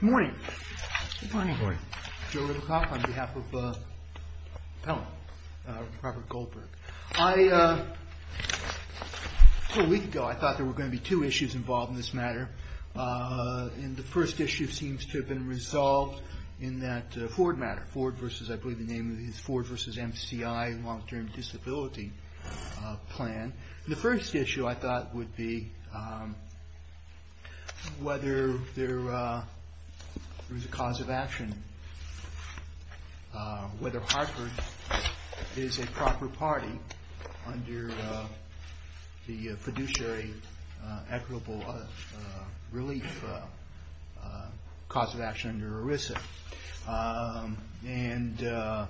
Good morning. Good morning. Joe Littlecock on behalf of Pellan, Robert Goldberg. Two weeks ago I thought there were going to be two issues involved in this matter, and the first issue seems to have been resolved in that Ford matter, Ford v. I believe the name of it is Ford v. MCI long-term disability plan. And the first issue I thought would be whether there is a cause of action, whether Hartford is a proper party under the fiduciary equitable relief cause of action under ERISA. And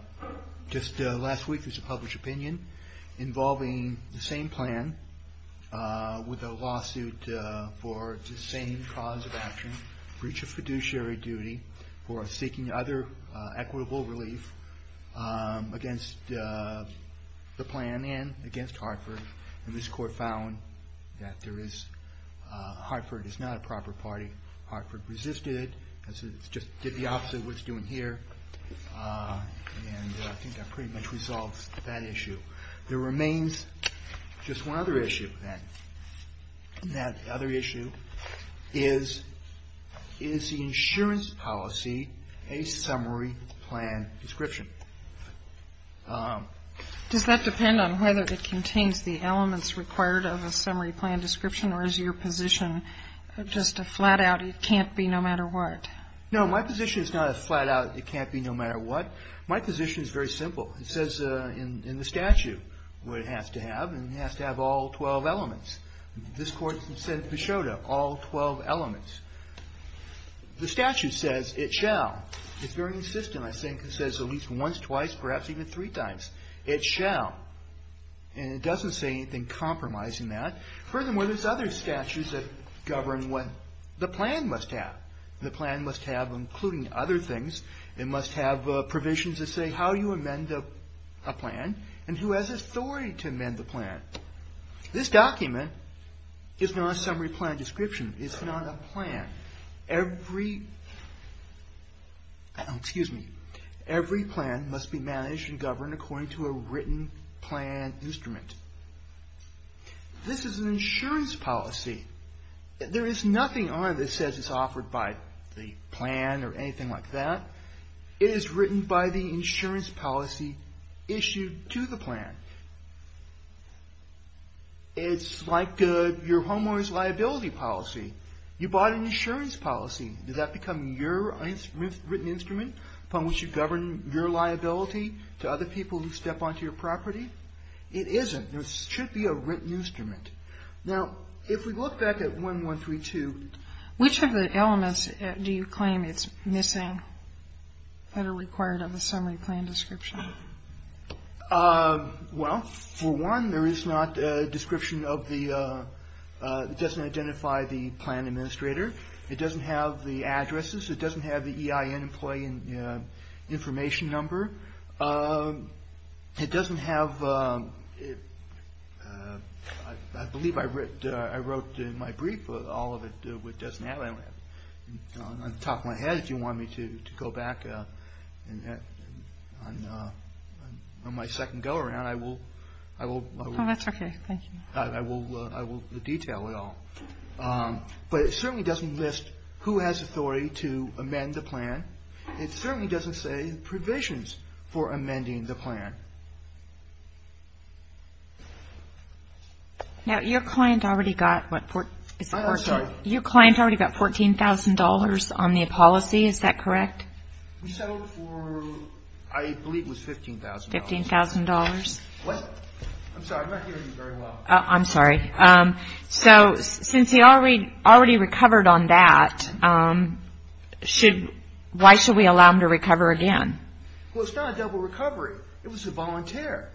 just last week there was a published opinion involving the same plan with a lawsuit for the same cause of action, breach of fiduciary duty, for seeking other equitable relief against the plan and against Hartford. And this court found that Hartford is not a proper party. Hartford resisted it and said it's just the opposite of what it's doing here. And I think that pretty much resolves that issue. There remains just one other issue then. And that other issue is, is the insurance policy a summary plan description? Does that depend on whether it contains the elements required of a summary plan description or is your position just a flat-out it can't be no matter what? No, my position is not a flat-out it can't be no matter what. My position is very simple. It says in the statute what it has to have, and it has to have all 12 elements. This court said it showed all 12 elements. The statute says it shall. It's very insistent. I think it says at least once, twice, perhaps even three times. It shall. And it doesn't say anything compromising that. Furthermore, there's other statutes that govern what the plan must have. The plan must have, including other things, it must have provisions that say how you amend a plan and who has authority to amend the plan. This document is not a summary plan description. It's not a plan. Every plan must be managed and governed according to a written plan instrument. This is an insurance policy. There is nothing on it that says it's offered by the plan or anything like that. It is written by the insurance policy issued to the plan. It's like your homeowner's liability policy. You bought an insurance policy. Does that become your written instrument upon which you govern your liability to other people who step onto your property? It isn't. It should be a written instrument. Now, if we look back at 1132. Which of the elements do you claim it's missing that are required of a summary plan description? Well, for one, there is not a description of the, it doesn't identify the plan administrator. It doesn't have the addresses. It doesn't have the EIN employee information number. It doesn't have, I believe I wrote in my brief all of it, but it doesn't have that. On the top of my head, if you want me to go back on my second go around, I will detail it all. But it certainly doesn't list who has authority to amend the plan. It certainly doesn't say provisions for amending the plan. Now, your client already got what? I'm sorry. Your client already got $14,000 on the policy. Is that correct? We settled for, I believe it was $15,000. $15,000. What? I'm sorry. I'm not hearing you very well. I'm sorry. So since he already recovered on that, why should we allow him to recover again? Well, it's not a double recovery. It was a volunteer.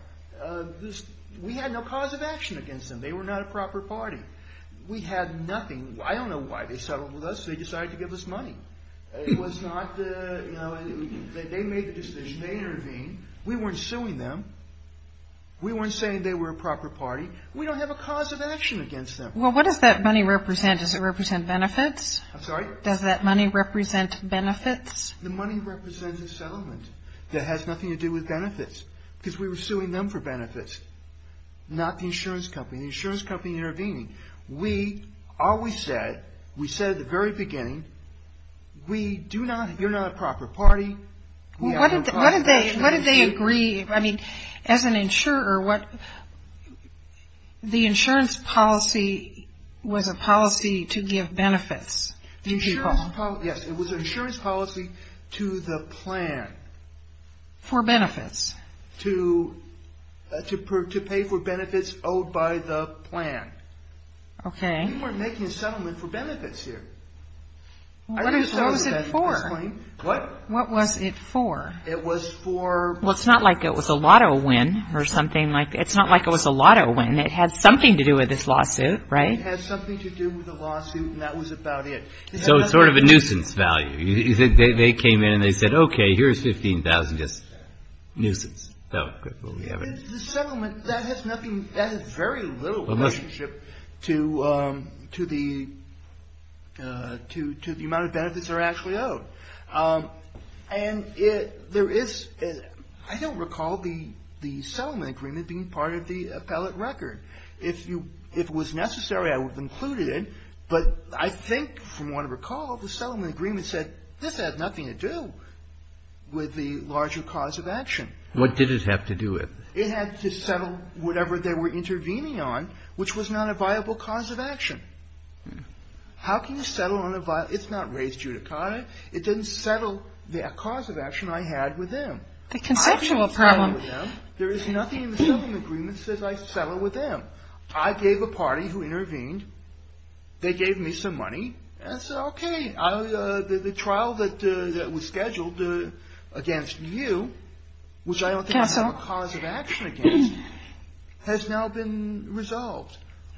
We had no cause of action against them. They were not a proper party. We had nothing. I don't know why they settled with us. They decided to give us money. It was not, you know, they made the decision. They intervened. We weren't suing them. We weren't saying they were a proper party. We don't have a cause of action against them. Well, what does that money represent? Does it represent benefits? I'm sorry? Does that money represent benefits? The money represents a settlement that has nothing to do with benefits because we were suing them for benefits, not the insurance company. The insurance company intervened. We always said, we said at the very beginning, we do not, you're not a proper party. We have no cause of action against you. What did they agree? I mean, as an insurer, what, the insurance policy was a policy to give benefits to people. Yes, it was an insurance policy to the plan. For benefits. To pay for benefits owed by the plan. Okay. We weren't making a settlement for benefits here. What was it for? What? What was it for? It was for. Well, it's not like it was a lotto win or something like that. It's not like it was a lotto win. It had something to do with this lawsuit, right? It had something to do with the lawsuit and that was about it. So it's sort of a nuisance value. They came in and they said, okay, here's 15,000 just nuisance. The settlement, that has nothing, that has very little relationship to the amount of benefits that are actually owed. And there is, I don't recall the settlement agreement being part of the appellate record. If it was necessary, I would have included it. But I think from what I recall, the settlement agreement said this has nothing to do with the larger cause of action. What did it have to do with? It had to settle whatever they were intervening on, which was not a viable cause of action. How can you settle on a, it's not raised judicata. It didn't settle the cause of action I had with them. The conceptual problem. There is nothing in the settlement agreement that says I settled with them. I gave a party who intervened, they gave me some money and said, okay, the trial that was scheduled against you, which I don't think I have a cause of action against, has now been resolved.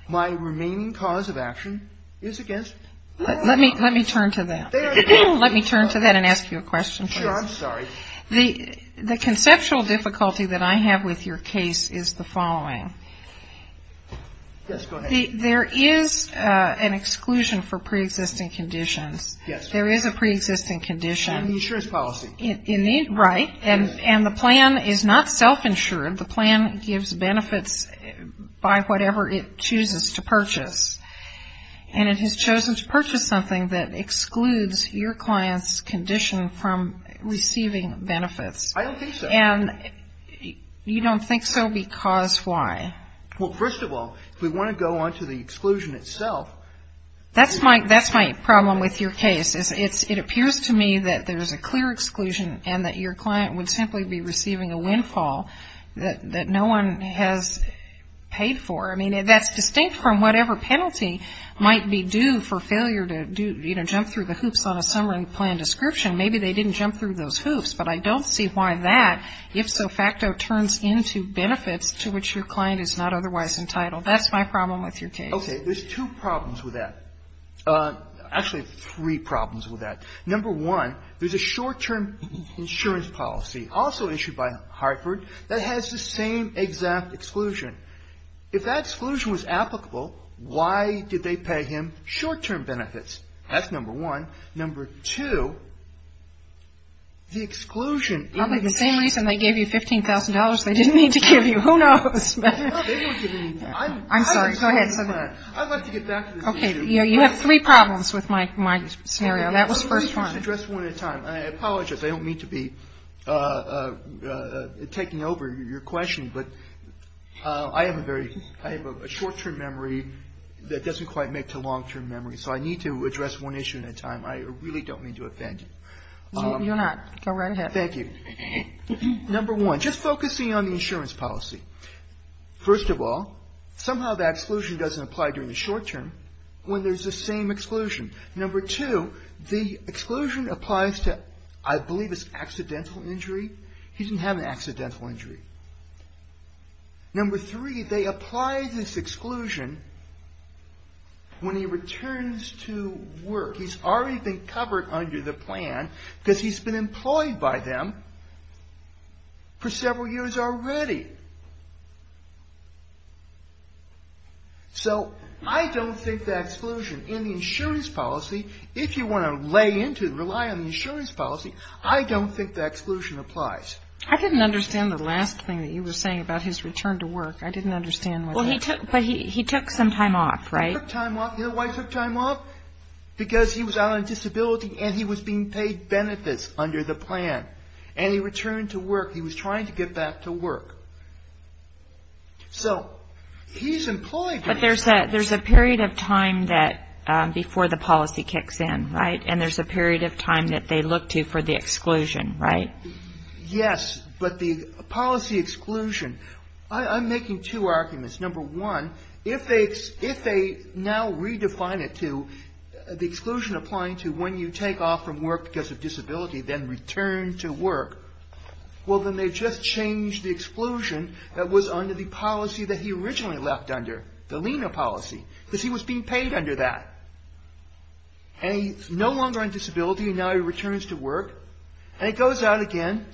My remaining cause of action is against them. Let me turn to that. Let me turn to that and ask you a question, please. Sure, I'm sorry. The conceptual difficulty that I have with your case is the following. Yes, go ahead. There is an exclusion for preexisting conditions. Yes. There is a preexisting condition. In the insurance policy. Right. And the plan is not self-insured. The plan gives benefits by whatever it chooses to purchase. And it has chosen to purchase something that excludes your client's condition from receiving benefits. I don't think so. And you don't think so because why? Well, first of all, if we want to go on to the exclusion itself. That's my problem with your case is it appears to me that there is a clear exclusion and that your client would simply be receiving a windfall that no one has paid for. I mean, that's distinct from whatever penalty might be due for failure to, you know, jump through the hoops on a summary plan description. Maybe they didn't jump through those hoops, but I don't see why that, if so facto, turns into benefits to which your client is not otherwise entitled. That's my problem with your case. Okay. There's two problems with that. Actually, three problems with that. Number one, there's a short-term insurance policy also issued by Hartford that has the same exact exclusion. If that exclusion was applicable, why did they pay him short-term benefits? That's number one. Number two, the exclusion. Probably the same reason they gave you $15,000 they didn't need to give you. Who knows? They didn't give me anything. I'm sorry. Go ahead. I'd like to get back to this issue. Okay. You have three problems with my scenario. That was the first one. Let me just address one at a time. I apologize. I don't mean to be taking over your question, but I have a short-term memory that doesn't quite make it a long-term memory, so I need to address one issue at a time. I really don't mean to offend you. You're not. Go right ahead. Thank you. Number one, just focusing on the insurance policy. First of all, somehow that exclusion doesn't apply during the short-term when there's the same exclusion. Number two, the exclusion applies to, I believe it's accidental injury. He didn't have an accidental injury. Number three, they apply this exclusion when he returns to work. He's already been covered under the plan because he's been employed by them for several years already. So I don't think that exclusion in the insurance policy, if you want to lay into it, rely on the insurance policy, I don't think that exclusion applies. I didn't understand the last thing that you were saying about his return to work. I didn't understand what that was. Well, he took some time off, right? He took time off. You know why he took time off? Because he was out on disability and he was being paid benefits under the plan, and he returned to work. He was trying to get back to work. So he's employed. But there's a period of time before the policy kicks in, right? And there's a period of time that they look to for the exclusion, right? Yes. But the policy exclusion, I'm making two arguments. Number one, if they now redefine it to the exclusion applying to when you take off from work because of disability, then return to work, well, then they've just changed the exclusion that was under the policy that he originally left under, the LENA policy, because he was being paid under that. And he's no longer on disability, and now he returns to work. And it goes out again,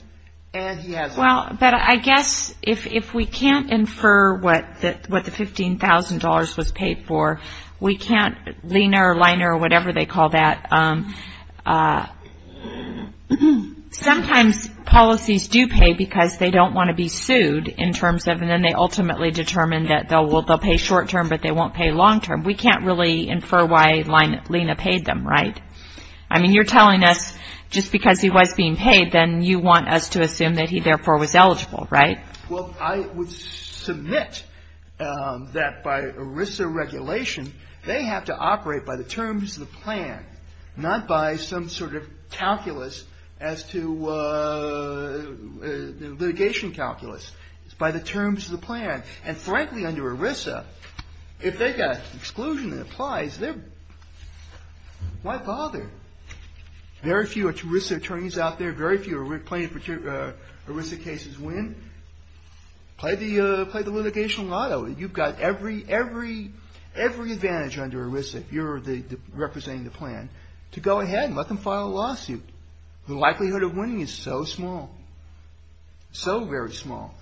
and he hasn't. Well, but I guess if we can't infer what the $15,000 was paid for, we can't, or Liner or whatever they call that. Sometimes policies do pay because they don't want to be sued in terms of, and then they ultimately determine that they'll pay short-term, but they won't pay long-term. We can't really infer why LENA paid them, right? I mean, you're telling us just because he was being paid, then you want us to assume that he, therefore, was eligible, right? Well, I would submit that by ERISA regulation, they have to operate by the terms of the plan, not by some sort of calculus as to litigation calculus. It's by the terms of the plan. And frankly, under ERISA, if they've got exclusion that applies, why bother? Very few ERISA attorneys out there, very few ERISA cases win. Play the litigation lotto. You've got every advantage under ERISA, if you're representing the plan, to go ahead and let them file a lawsuit. The likelihood of winning is so small, so very small,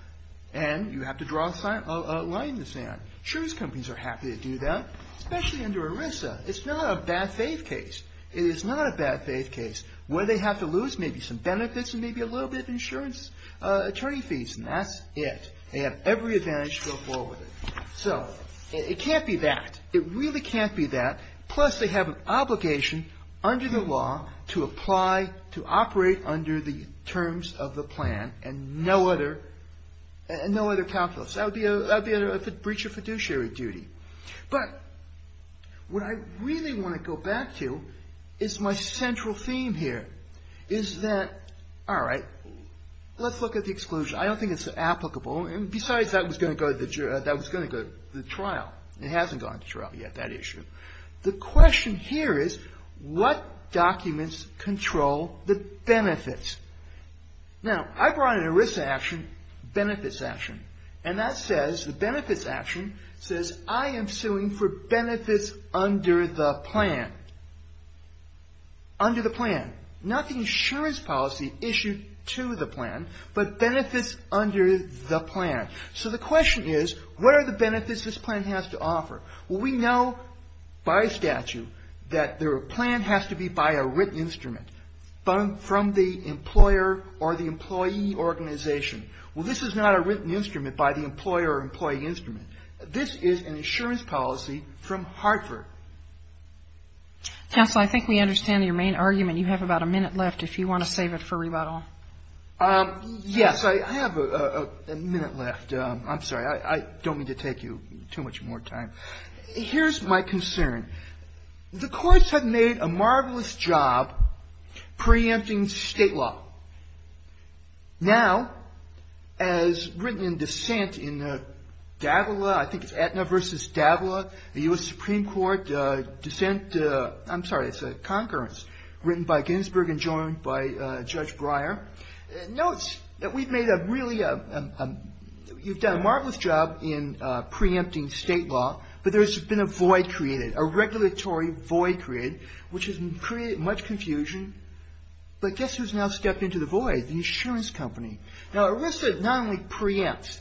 and you have to draw a line in the sand. Truce companies are happy to do that, especially under ERISA. It's not a bad faith case. It is not a bad faith case. What do they have to lose? Maybe some benefits and maybe a little bit of insurance, attorney fees, and that's it. They have every advantage to go forward with it. So it can't be that. It really can't be that. Plus, they have an obligation under the law to apply, to operate under the terms of the plan and no other calculus. That would be a breach of fiduciary duty. But what I really want to go back to is my central theme here, is that, all right, let's look at the exclusion. I don't think it's applicable. And besides, that was going to go to the trial. It hasn't gone to trial yet, that issue. The question here is, what documents control the benefits? Now, I brought an ERISA action, benefits action. And that says, the benefits action says, I am suing for benefits under the plan. Under the plan. Not the insurance policy issued to the plan, but benefits under the plan. So the question is, what are the benefits this plan has to offer? Well, we know by statute that the plan has to be by a written instrument from the employer or the employee organization. Well, this is not a written instrument by the employer or employee instrument. This is an insurance policy from Hartford. Counsel, I think we understand your main argument. You have about a minute left if you want to save it for rebuttal. Yes, I have a minute left. I'm sorry. I don't mean to take you too much more time. Here's my concern. The courts have made a marvelous job preempting state law. Now, as written in dissent in Davila, I think it's Aetna versus Davila, the U.S. Supreme Court dissent. I'm sorry. It's a concurrence written by Ginsberg and joined by Judge Breyer. Notes that we've made a really, you've done a marvelous job in preempting state law. But there's been a void created, a regulatory void created, which has created much confusion. But guess who's now stepped into the void? The insurance company. Now, ERISA not only preempts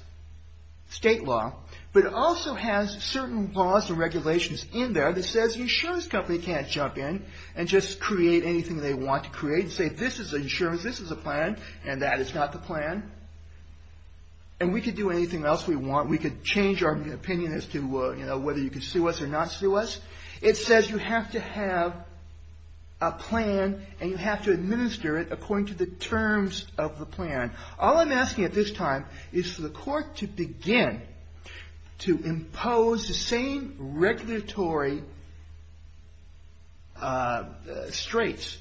state law, but also has certain laws and regulations in there that says the insurance company can't jump in and just create anything they want to create and say this is insurance, this is a plan, and that is not the plan. And we could do anything else we want. We could change our opinion as to whether you can sue us or not sue us. It says you have to have a plan and you have to administer it according to the terms of the plan. All I'm asking at this time is for the court to begin to impose the same regulatory straights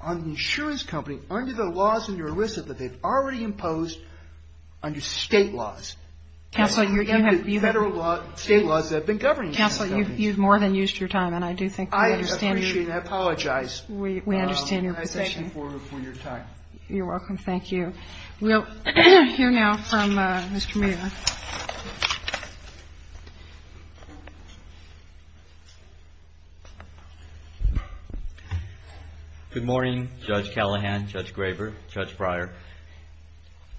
on the insurance company under the laws in ERISA that they've already imposed under state laws. Counsel, you've more than used your time, and I do think we understand your position. I appreciate it. I apologize. We understand your position. Thank you for your time. You're welcome. Thank you. We'll hear now from Mr. Meehan. Good morning, Judge Callahan, Judge Graber, Judge Breyer.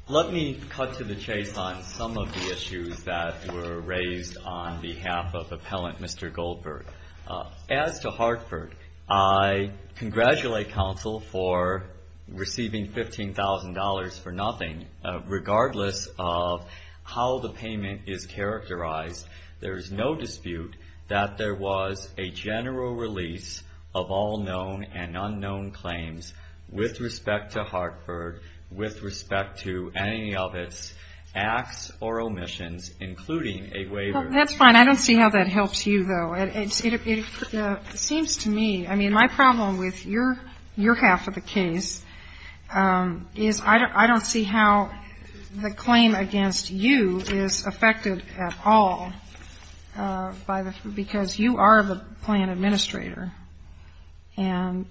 Let me cut to the chase on some of the issues that were raised on behalf of Appellant Mr. Goldberg. As to Hartford, I congratulate counsel for receiving $15,000 for nothing. Regardless of how the payment is characterized, there is no dispute that there was a general release of all known and unknown claims with respect to Hartford, with respect to any of its acts or omissions, including a waiver. That's fine. I don't see how that helps you, though. It seems to me, I mean, my problem with your half of the case is I don't see how the claim against you is affected at all by the, because you are the plan administrator, and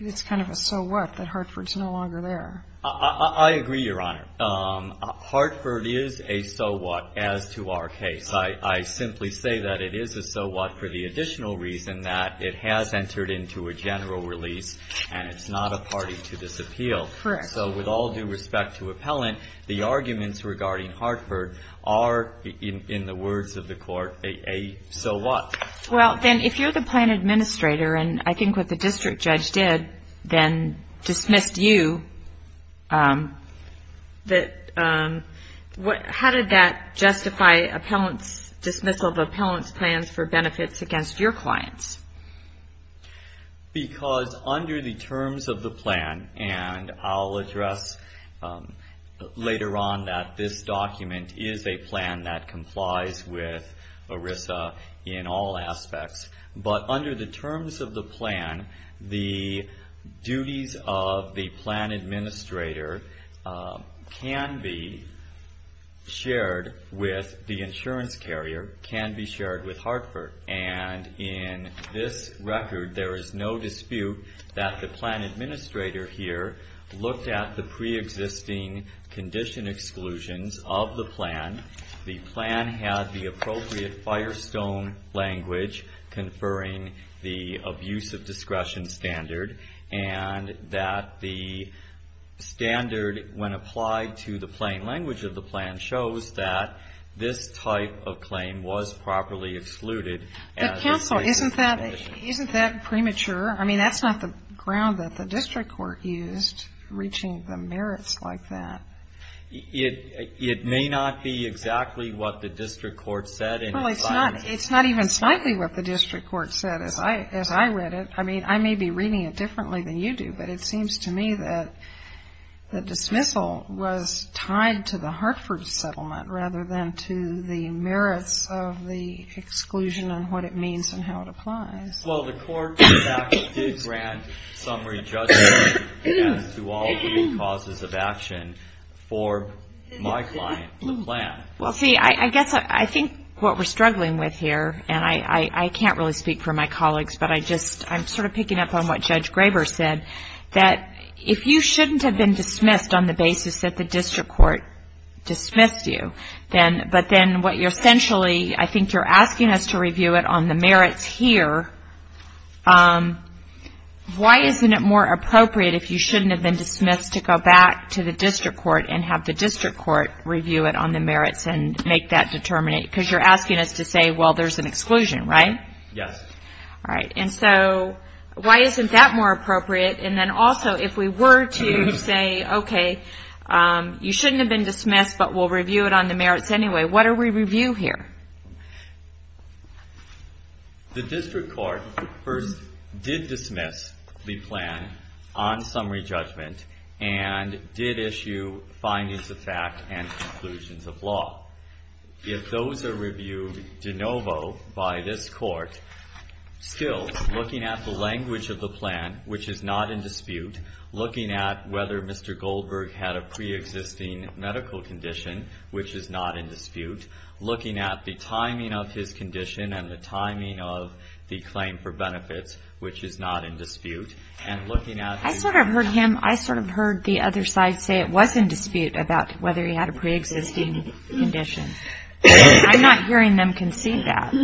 it's kind of a so what that Hartford's no longer there. I agree, Your Honor. Hartford is a so what as to our case. I simply say that it is a so what for the additional reason that it has entered into a general release and it's not a party to disappeal. Correct. So with all due respect to Appellant, the arguments regarding Hartford are, in the words of the court, a so what. Well, then, if you're the plan administrator, and I think what the district judge did, then dismissed you, how did that justify Appellant's dismissal of Appellant's plans for benefits against your clients? Because under the terms of the plan, and I'll address later on that this document is a plan that complies with ERISA in all aspects, but under the terms of the plan, the duties of the plan administrator can be shared with the insurance carrier, can be shared with Hartford. And in this record, there is no dispute that the plan administrator here looked at the preexisting condition exclusions of the plan. The plan had the appropriate firestone language conferring the abuse of discretion standard, and that the standard, when applied to the plain language of the plan, shows that this type of claim was properly excluded. But counsel, isn't that premature? I mean, that's not the ground that the district court used reaching the merits like that. It may not be exactly what the district court said. Well, it's not even slightly what the district court said as I read it. I mean, I may be reading it differently than you do, but it seems to me that the dismissal was tied to the Hartford settlement rather than to the merits of the exclusion and what it means and how it applies. Well, the court did grant summary judgment as to all the causes of action for my client, the plan. Well, see, I guess I think what we're struggling with here, and I can't really speak for my colleagues, but I just I'm sort of picking up on what Judge Graber said, that if you shouldn't have been dismissed on the basis that the district court dismissed you, but then what you're essentially I think you're asking us to review it on the merits here, why isn't it more appropriate if you shouldn't have been dismissed to go back to the district court and have the district court review it on the merits and make that determination? Because you're asking us to say, well, there's an exclusion, right? Yes. All right. And so why isn't that more appropriate? And then also, if we were to say, OK, you shouldn't have been dismissed, but we'll review it on the merits anyway, what do we review here? The district court first did dismiss the plan on summary judgment and did issue findings of fact and conclusions of law. If those are reviewed de novo by this court, still looking at the language of the plan, which is not in dispute, looking at whether Mr. Goldberg had a preexisting medical condition, which is not in dispute, looking at the timing of his condition and the timing of the claim for benefits, which is not in dispute, and looking at the... I sort of heard him, I sort of heard the other side say it was in dispute about whether he had a preexisting condition. I'm not hearing them concede that.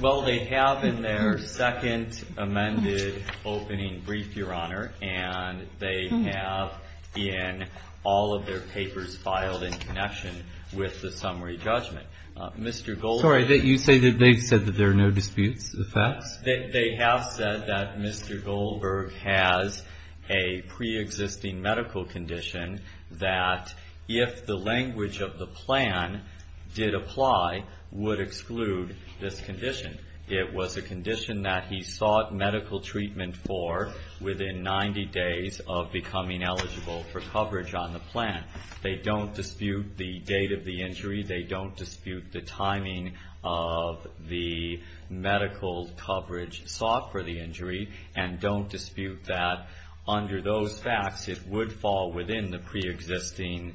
Well, they have in their second amended opening brief, Your Honor, and they have in all of their papers filed in connection with the summary judgment. Mr. Goldberg... Sorry, you say that they've said that there are no disputes of facts? They have said that Mr. Goldberg has a preexisting medical condition that if the language of the plan did apply, would exclude this condition. It was a condition that he sought medical treatment for within 90 days of becoming eligible for coverage on the plan. They don't dispute the date of the injury. They don't dispute the timing of the medical coverage sought for the injury, and don't dispute that under those facts it would fall within the preexisting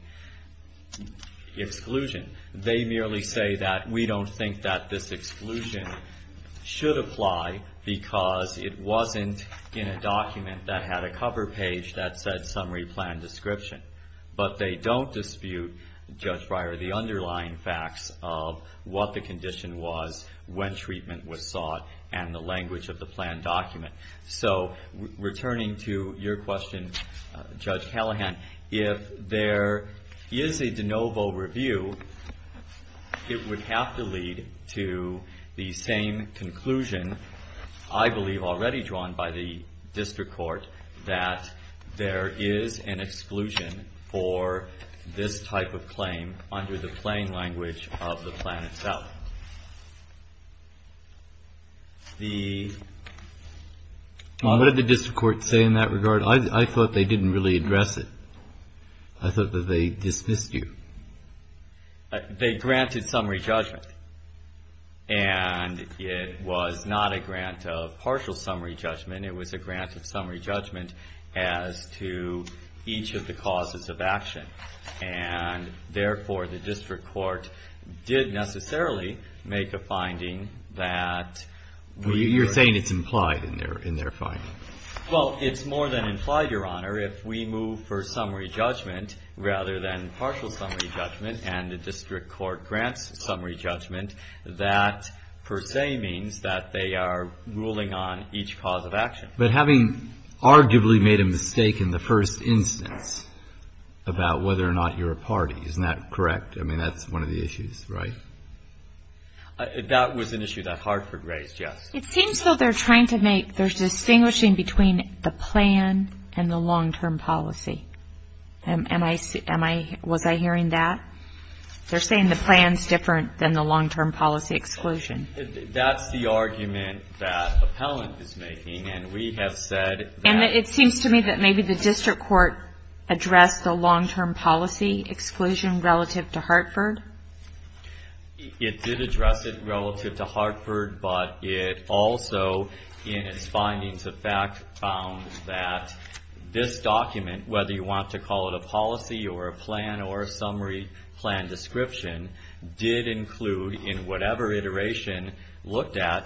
exclusion. They merely say that we don't think that this exclusion should apply because it wasn't in a document that had a cover page that said summary plan description. But they don't dispute, Judge Breyer, the underlying facts of what the condition was when treatment was sought and the language of the plan document. So, returning to your question, Judge Callahan, if there is a de novo review, it would have to lead to the same conclusion, I believe already drawn by the district court, that there is an exclusion for this type of claim under the plain language of the plan itself. What did the district court say in that regard? I thought they didn't really address it. I thought that they dismissed you. They granted summary judgment. And it was not a grant of partial summary judgment. It was a grant of summary judgment as to each of the causes of action. And, therefore, the district court did necessarily make a finding that we were. You're saying it's implied in their finding. Well, it's more than implied, Your Honor. If we move for summary judgment rather than partial summary judgment, and the district court grants summary judgment, that per se means that they are ruling on each cause of action. But having arguably made a mistake in the first instance about whether or not you're a party, isn't that correct? I mean, that's one of the issues, right? That was an issue that Hartford raised, yes. It seems, though, they're trying to make, they're distinguishing between the plan and the long-term policy. Am I, was I hearing that? They're saying the plan's different than the long-term policy exclusion. That's the argument that appellant is making, and we have said that. And it seems to me that maybe the district court addressed the long-term policy exclusion relative to Hartford. It did address it relative to Hartford, but it also in its findings of fact found that this document, whether you want to call it a policy or a plan or a summary plan description, did include in whatever iteration looked at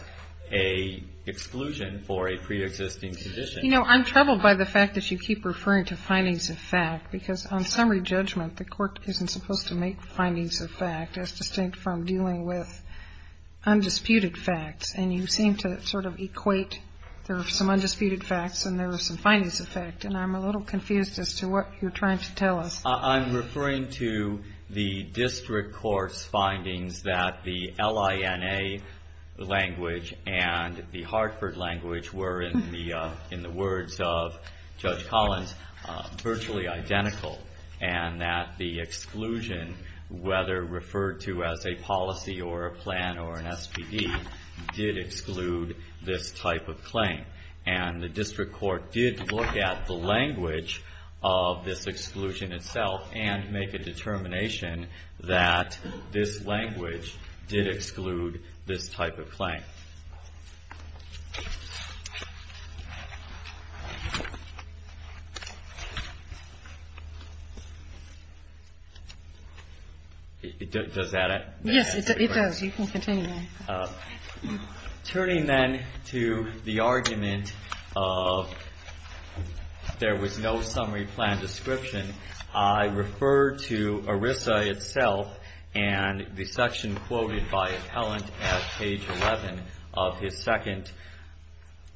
a exclusion for a preexisting condition. You know, I'm troubled by the fact that you keep referring to findings of fact, because on summary judgment the court isn't supposed to make findings of fact, as distinct from dealing with undisputed facts. And you seem to sort of equate there are some undisputed facts and there are some findings of fact, and I'm a little confused as to what you're trying to tell us. I'm referring to the district court's findings that the LINA language and the Hartford language were, in the words of Judge Collins, virtually identical, and that the exclusion, whether referred to as a policy or a plan or an SPD, did exclude this type of claim. And the district court did look at the language of this exclusion itself and make a determination that this language did exclude this type of claim. Does that answer the question? Yes, it does. You can continue. Turning then to the argument of there was no summary plan description, I refer to ERISA itself and the section quoted by appellant at page 11 of his second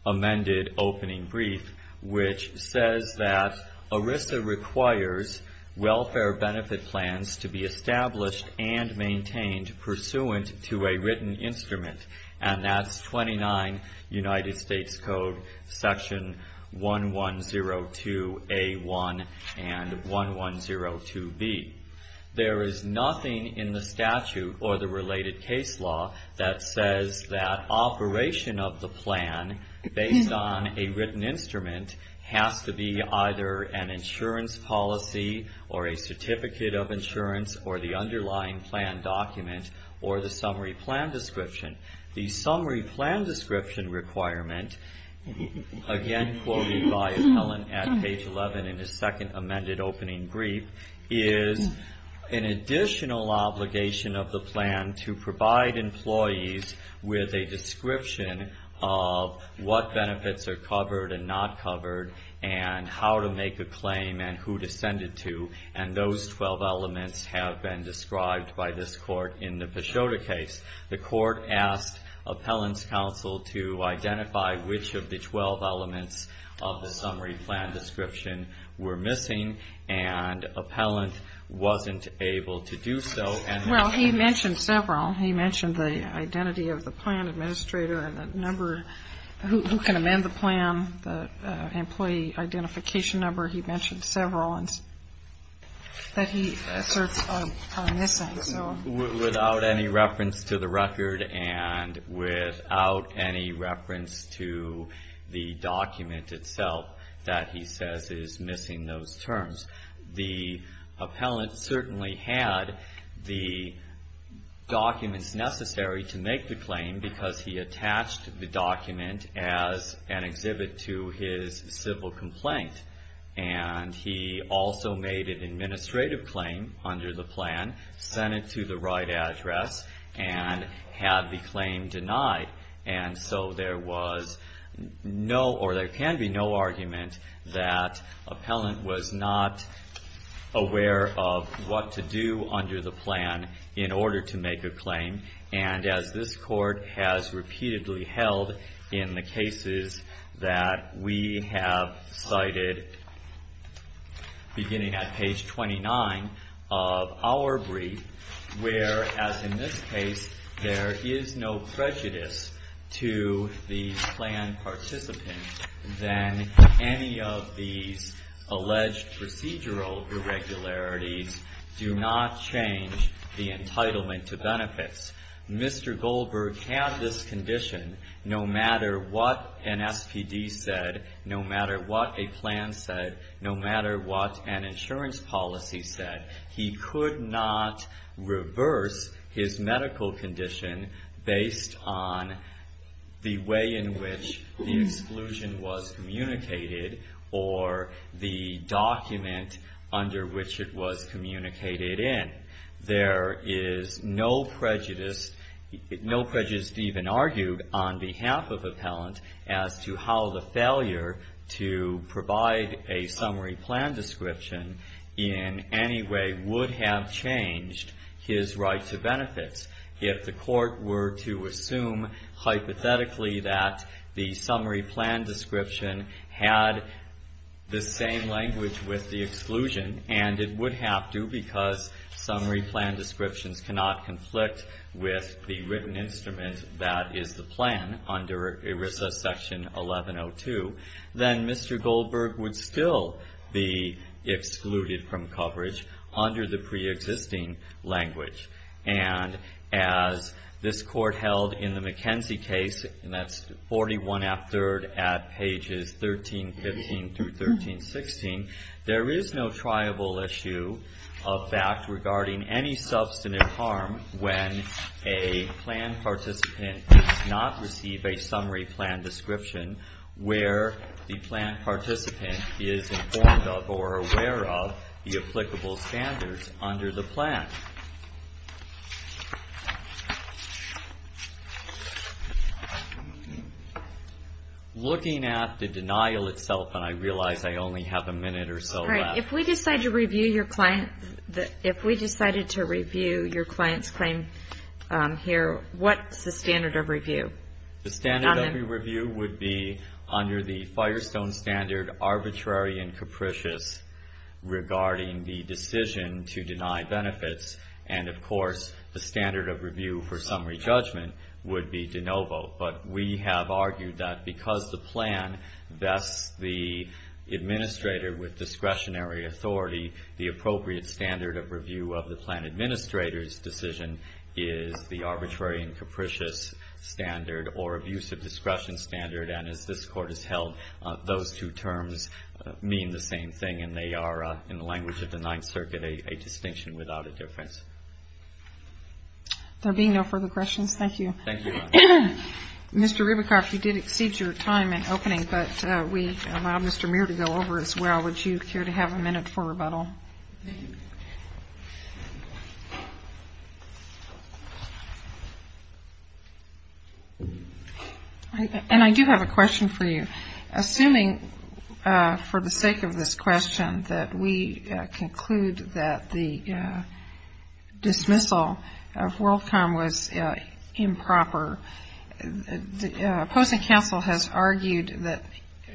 amended opening brief, which says that ERISA requires welfare benefit plans to be established and maintained pursuant to a written instrument, and that's 29 United States Code section 1102A1 and 1102B. There is nothing in the statute or the related case law that says that operation of the plan, based on a written instrument, has to be either an insurance policy or a certificate of insurance or the underlying plan document or the summary plan description. The summary plan description requirement, again quoted by appellant at page 11 in his second amended opening brief, is an additional obligation of the plan to provide employees with a description of what benefits are covered and not covered and how to make a claim and who to send it to, and those 12 elements have been described by this court in the Peixota case. The court asked appellant's counsel to identify which of the 12 elements of the summary plan description were missing, and appellant wasn't able to do so. Well, he mentioned several. He mentioned the identity of the plan administrator and the number, who can amend the plan, the employee identification number. He mentioned several that he asserts are missing. Without any reference to the record and without any reference to the document itself that he says is missing those terms. The appellant certainly had the documents necessary to make the claim because he attached the document as an exhibit to his civil complaint, and he also made an administrative claim under the plan, sent it to the right address, and had the claim denied. And so there was no, or there can be no argument that appellant was not aware of what to do under the plan in order to make a claim, and as this court has repeatedly held in the cases that we have cited beginning at page 29 of our brief, where, as in this case, there is no prejudice to the plan participant, then any of these alleged procedural irregularities do not change the entitlement to benefits. Mr. Goldberg had this condition no matter what an SPD said, no matter what a plan said, no matter what an insurance policy said. He could not reverse his medical condition based on the way in which the exclusion was communicated or the document under which it was communicated in. There is no prejudice, no prejudice even argued on behalf of appellant as to how the failure to provide a summary plan description in any way would have changed his right to benefits. If the court were to assume hypothetically that the summary plan description had the same language with the exclusion, and it would have to because summary plan descriptions cannot conflict with the written instrument that is the plan under ERISA section 1102, then Mr. Goldberg would still be excluded from coverage under the preexisting language. And as this court held in the McKenzie case, and that's 41 after at pages 1315 through 1316, there is no triable issue of fact regarding any substantive harm when a plan participant does not receive a summary plan description where the plan participant is informed of or aware of the applicable standards under the plan. Looking at the denial itself, and I realize I only have a minute or so left. All right. If we decided to review your client's claim here, what's the standard of review? The standard of review would be under the Firestone standard arbitrary and capricious regarding the decision to deny benefits, and, of course, the standard of review for summary judgment would be de novo. But we have argued that because the plan vests the administrator with discretionary authority, the appropriate standard of review of the plan administrator's decision is the arbitrary and capricious standard or abusive discretion standard, and as this court has held, those two terms mean the same thing and they are, in the language of the Ninth Circuit, a distinction without a difference. There being no further questions, thank you. Thank you, Your Honor. Mr. Ribicoff, you did exceed your time in opening, but we allow Mr. Muir to go over as well. Would you care to have a minute for rebuttal? And I do have a question for you. Assuming for the sake of this question that we conclude that the dismissal of WorldCom was improper, the opposing counsel has argued that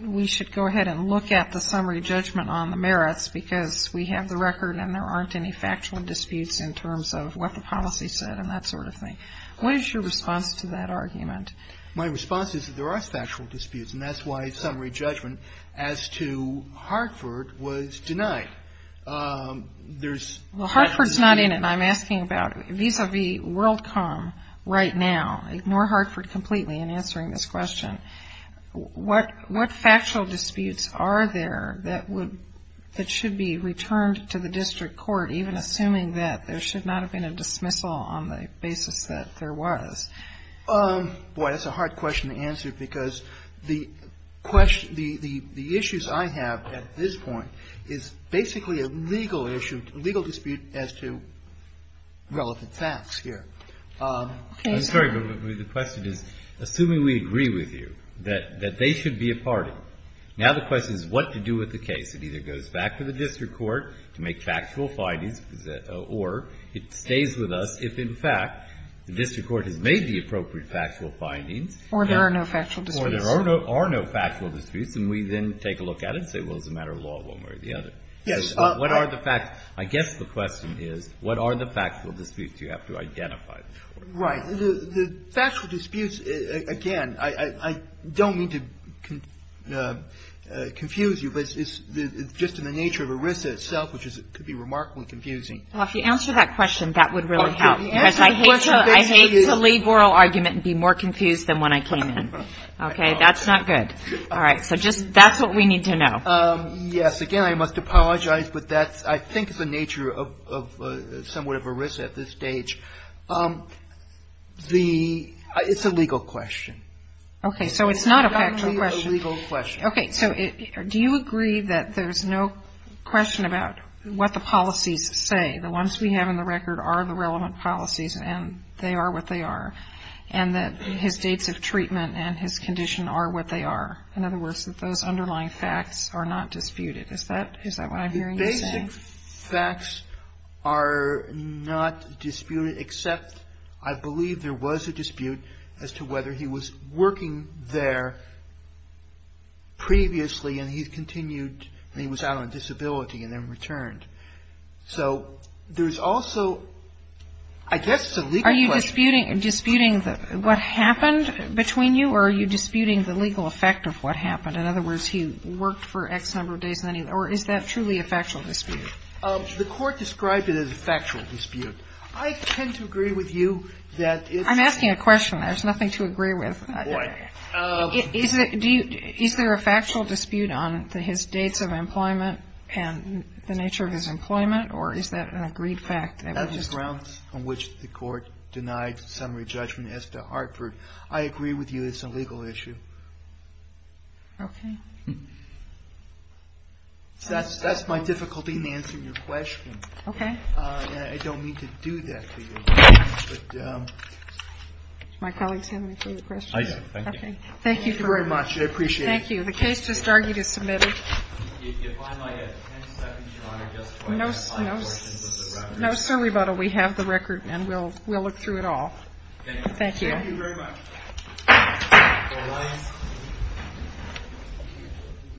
we should go ahead and look at the summary judgment on the merits because we have the record and there aren't any factual disputes in terms of what the policy said and that sort of thing. What is your response to that argument? My response is that there are factual disputes, and that's why summary judgment as to Hartford was denied. Well, Hartford's not in it, and I'm asking about vis-a-vis WorldCom right now. Ignore Hartford completely in answering this question. What factual disputes are there that should be returned to the district court, even assuming that there should not have been a dismissal on the basis that there was? Boy, that's a hard question to answer because the issues I have at this point is basically a legal dispute as to relevant facts here. I'm sorry, but the question is, assuming we agree with you that they should be a party, now the question is what to do with the case. It either goes back to the district court to make factual findings, or it stays with us if, in fact, the district court has made the appropriate factual findings. Or there are no factual disputes. Or there are no factual disputes, and we then take a look at it and say, well, it's a matter of law one way or the other. Yes. What are the facts? I guess the question is, what are the factual disputes you have to identify? Right. The factual disputes, again, I don't mean to confuse you, but it's just in the nature of ERISA itself, which could be remarkably confusing. Well, if you answer that question, that would really help. Because I hate to leave oral argument and be more confused than when I came in. Okay? That's not good. All right. So just, that's what we need to know. Yes. Again, I must apologize, but that's, I think, the nature of somewhat of ERISA at this stage. The, it's a legal question. Okay. So it's not a factual question. It's not only a legal question. Okay. So do you agree that there's no question about what the policies say? The ones we have in the record are the relevant policies, and they are what they are. And that his dates of treatment and his condition are what they are. In other words, that those underlying facts are not disputed. Is that what I'm hearing you saying? The basic facts are not disputed, except I believe there was a dispute as to whether he was working there previously and he continued and he was out on disability and then returned. So there's also, I guess it's a legal question. Are you disputing what happened between you, or are you disputing the legal effect of what happened? In other words, he worked for X number of days, or is that truly a factual dispute? The Court described it as a factual dispute. I tend to agree with you that it's. I'm asking a question. There's nothing to agree with. Boy. Is there a factual dispute on his dates of employment and the nature of his employment, or is that an agreed fact? That's the grounds on which the Court denied summary judgment as to Hartford. I agree with you it's a legal issue. Okay. That's my difficulty in answering your question. Okay. And I don't mean to do that to you. My colleagues have any further questions? I see. Thank you. Thank you very much. I appreciate it. Thank you. The case just argued is submitted. If I might have 10 seconds, Your Honor, just to ask five questions of the record. No, sir, rebuttal. We have the record, and we'll look through it all. Thank you. Thank you very much.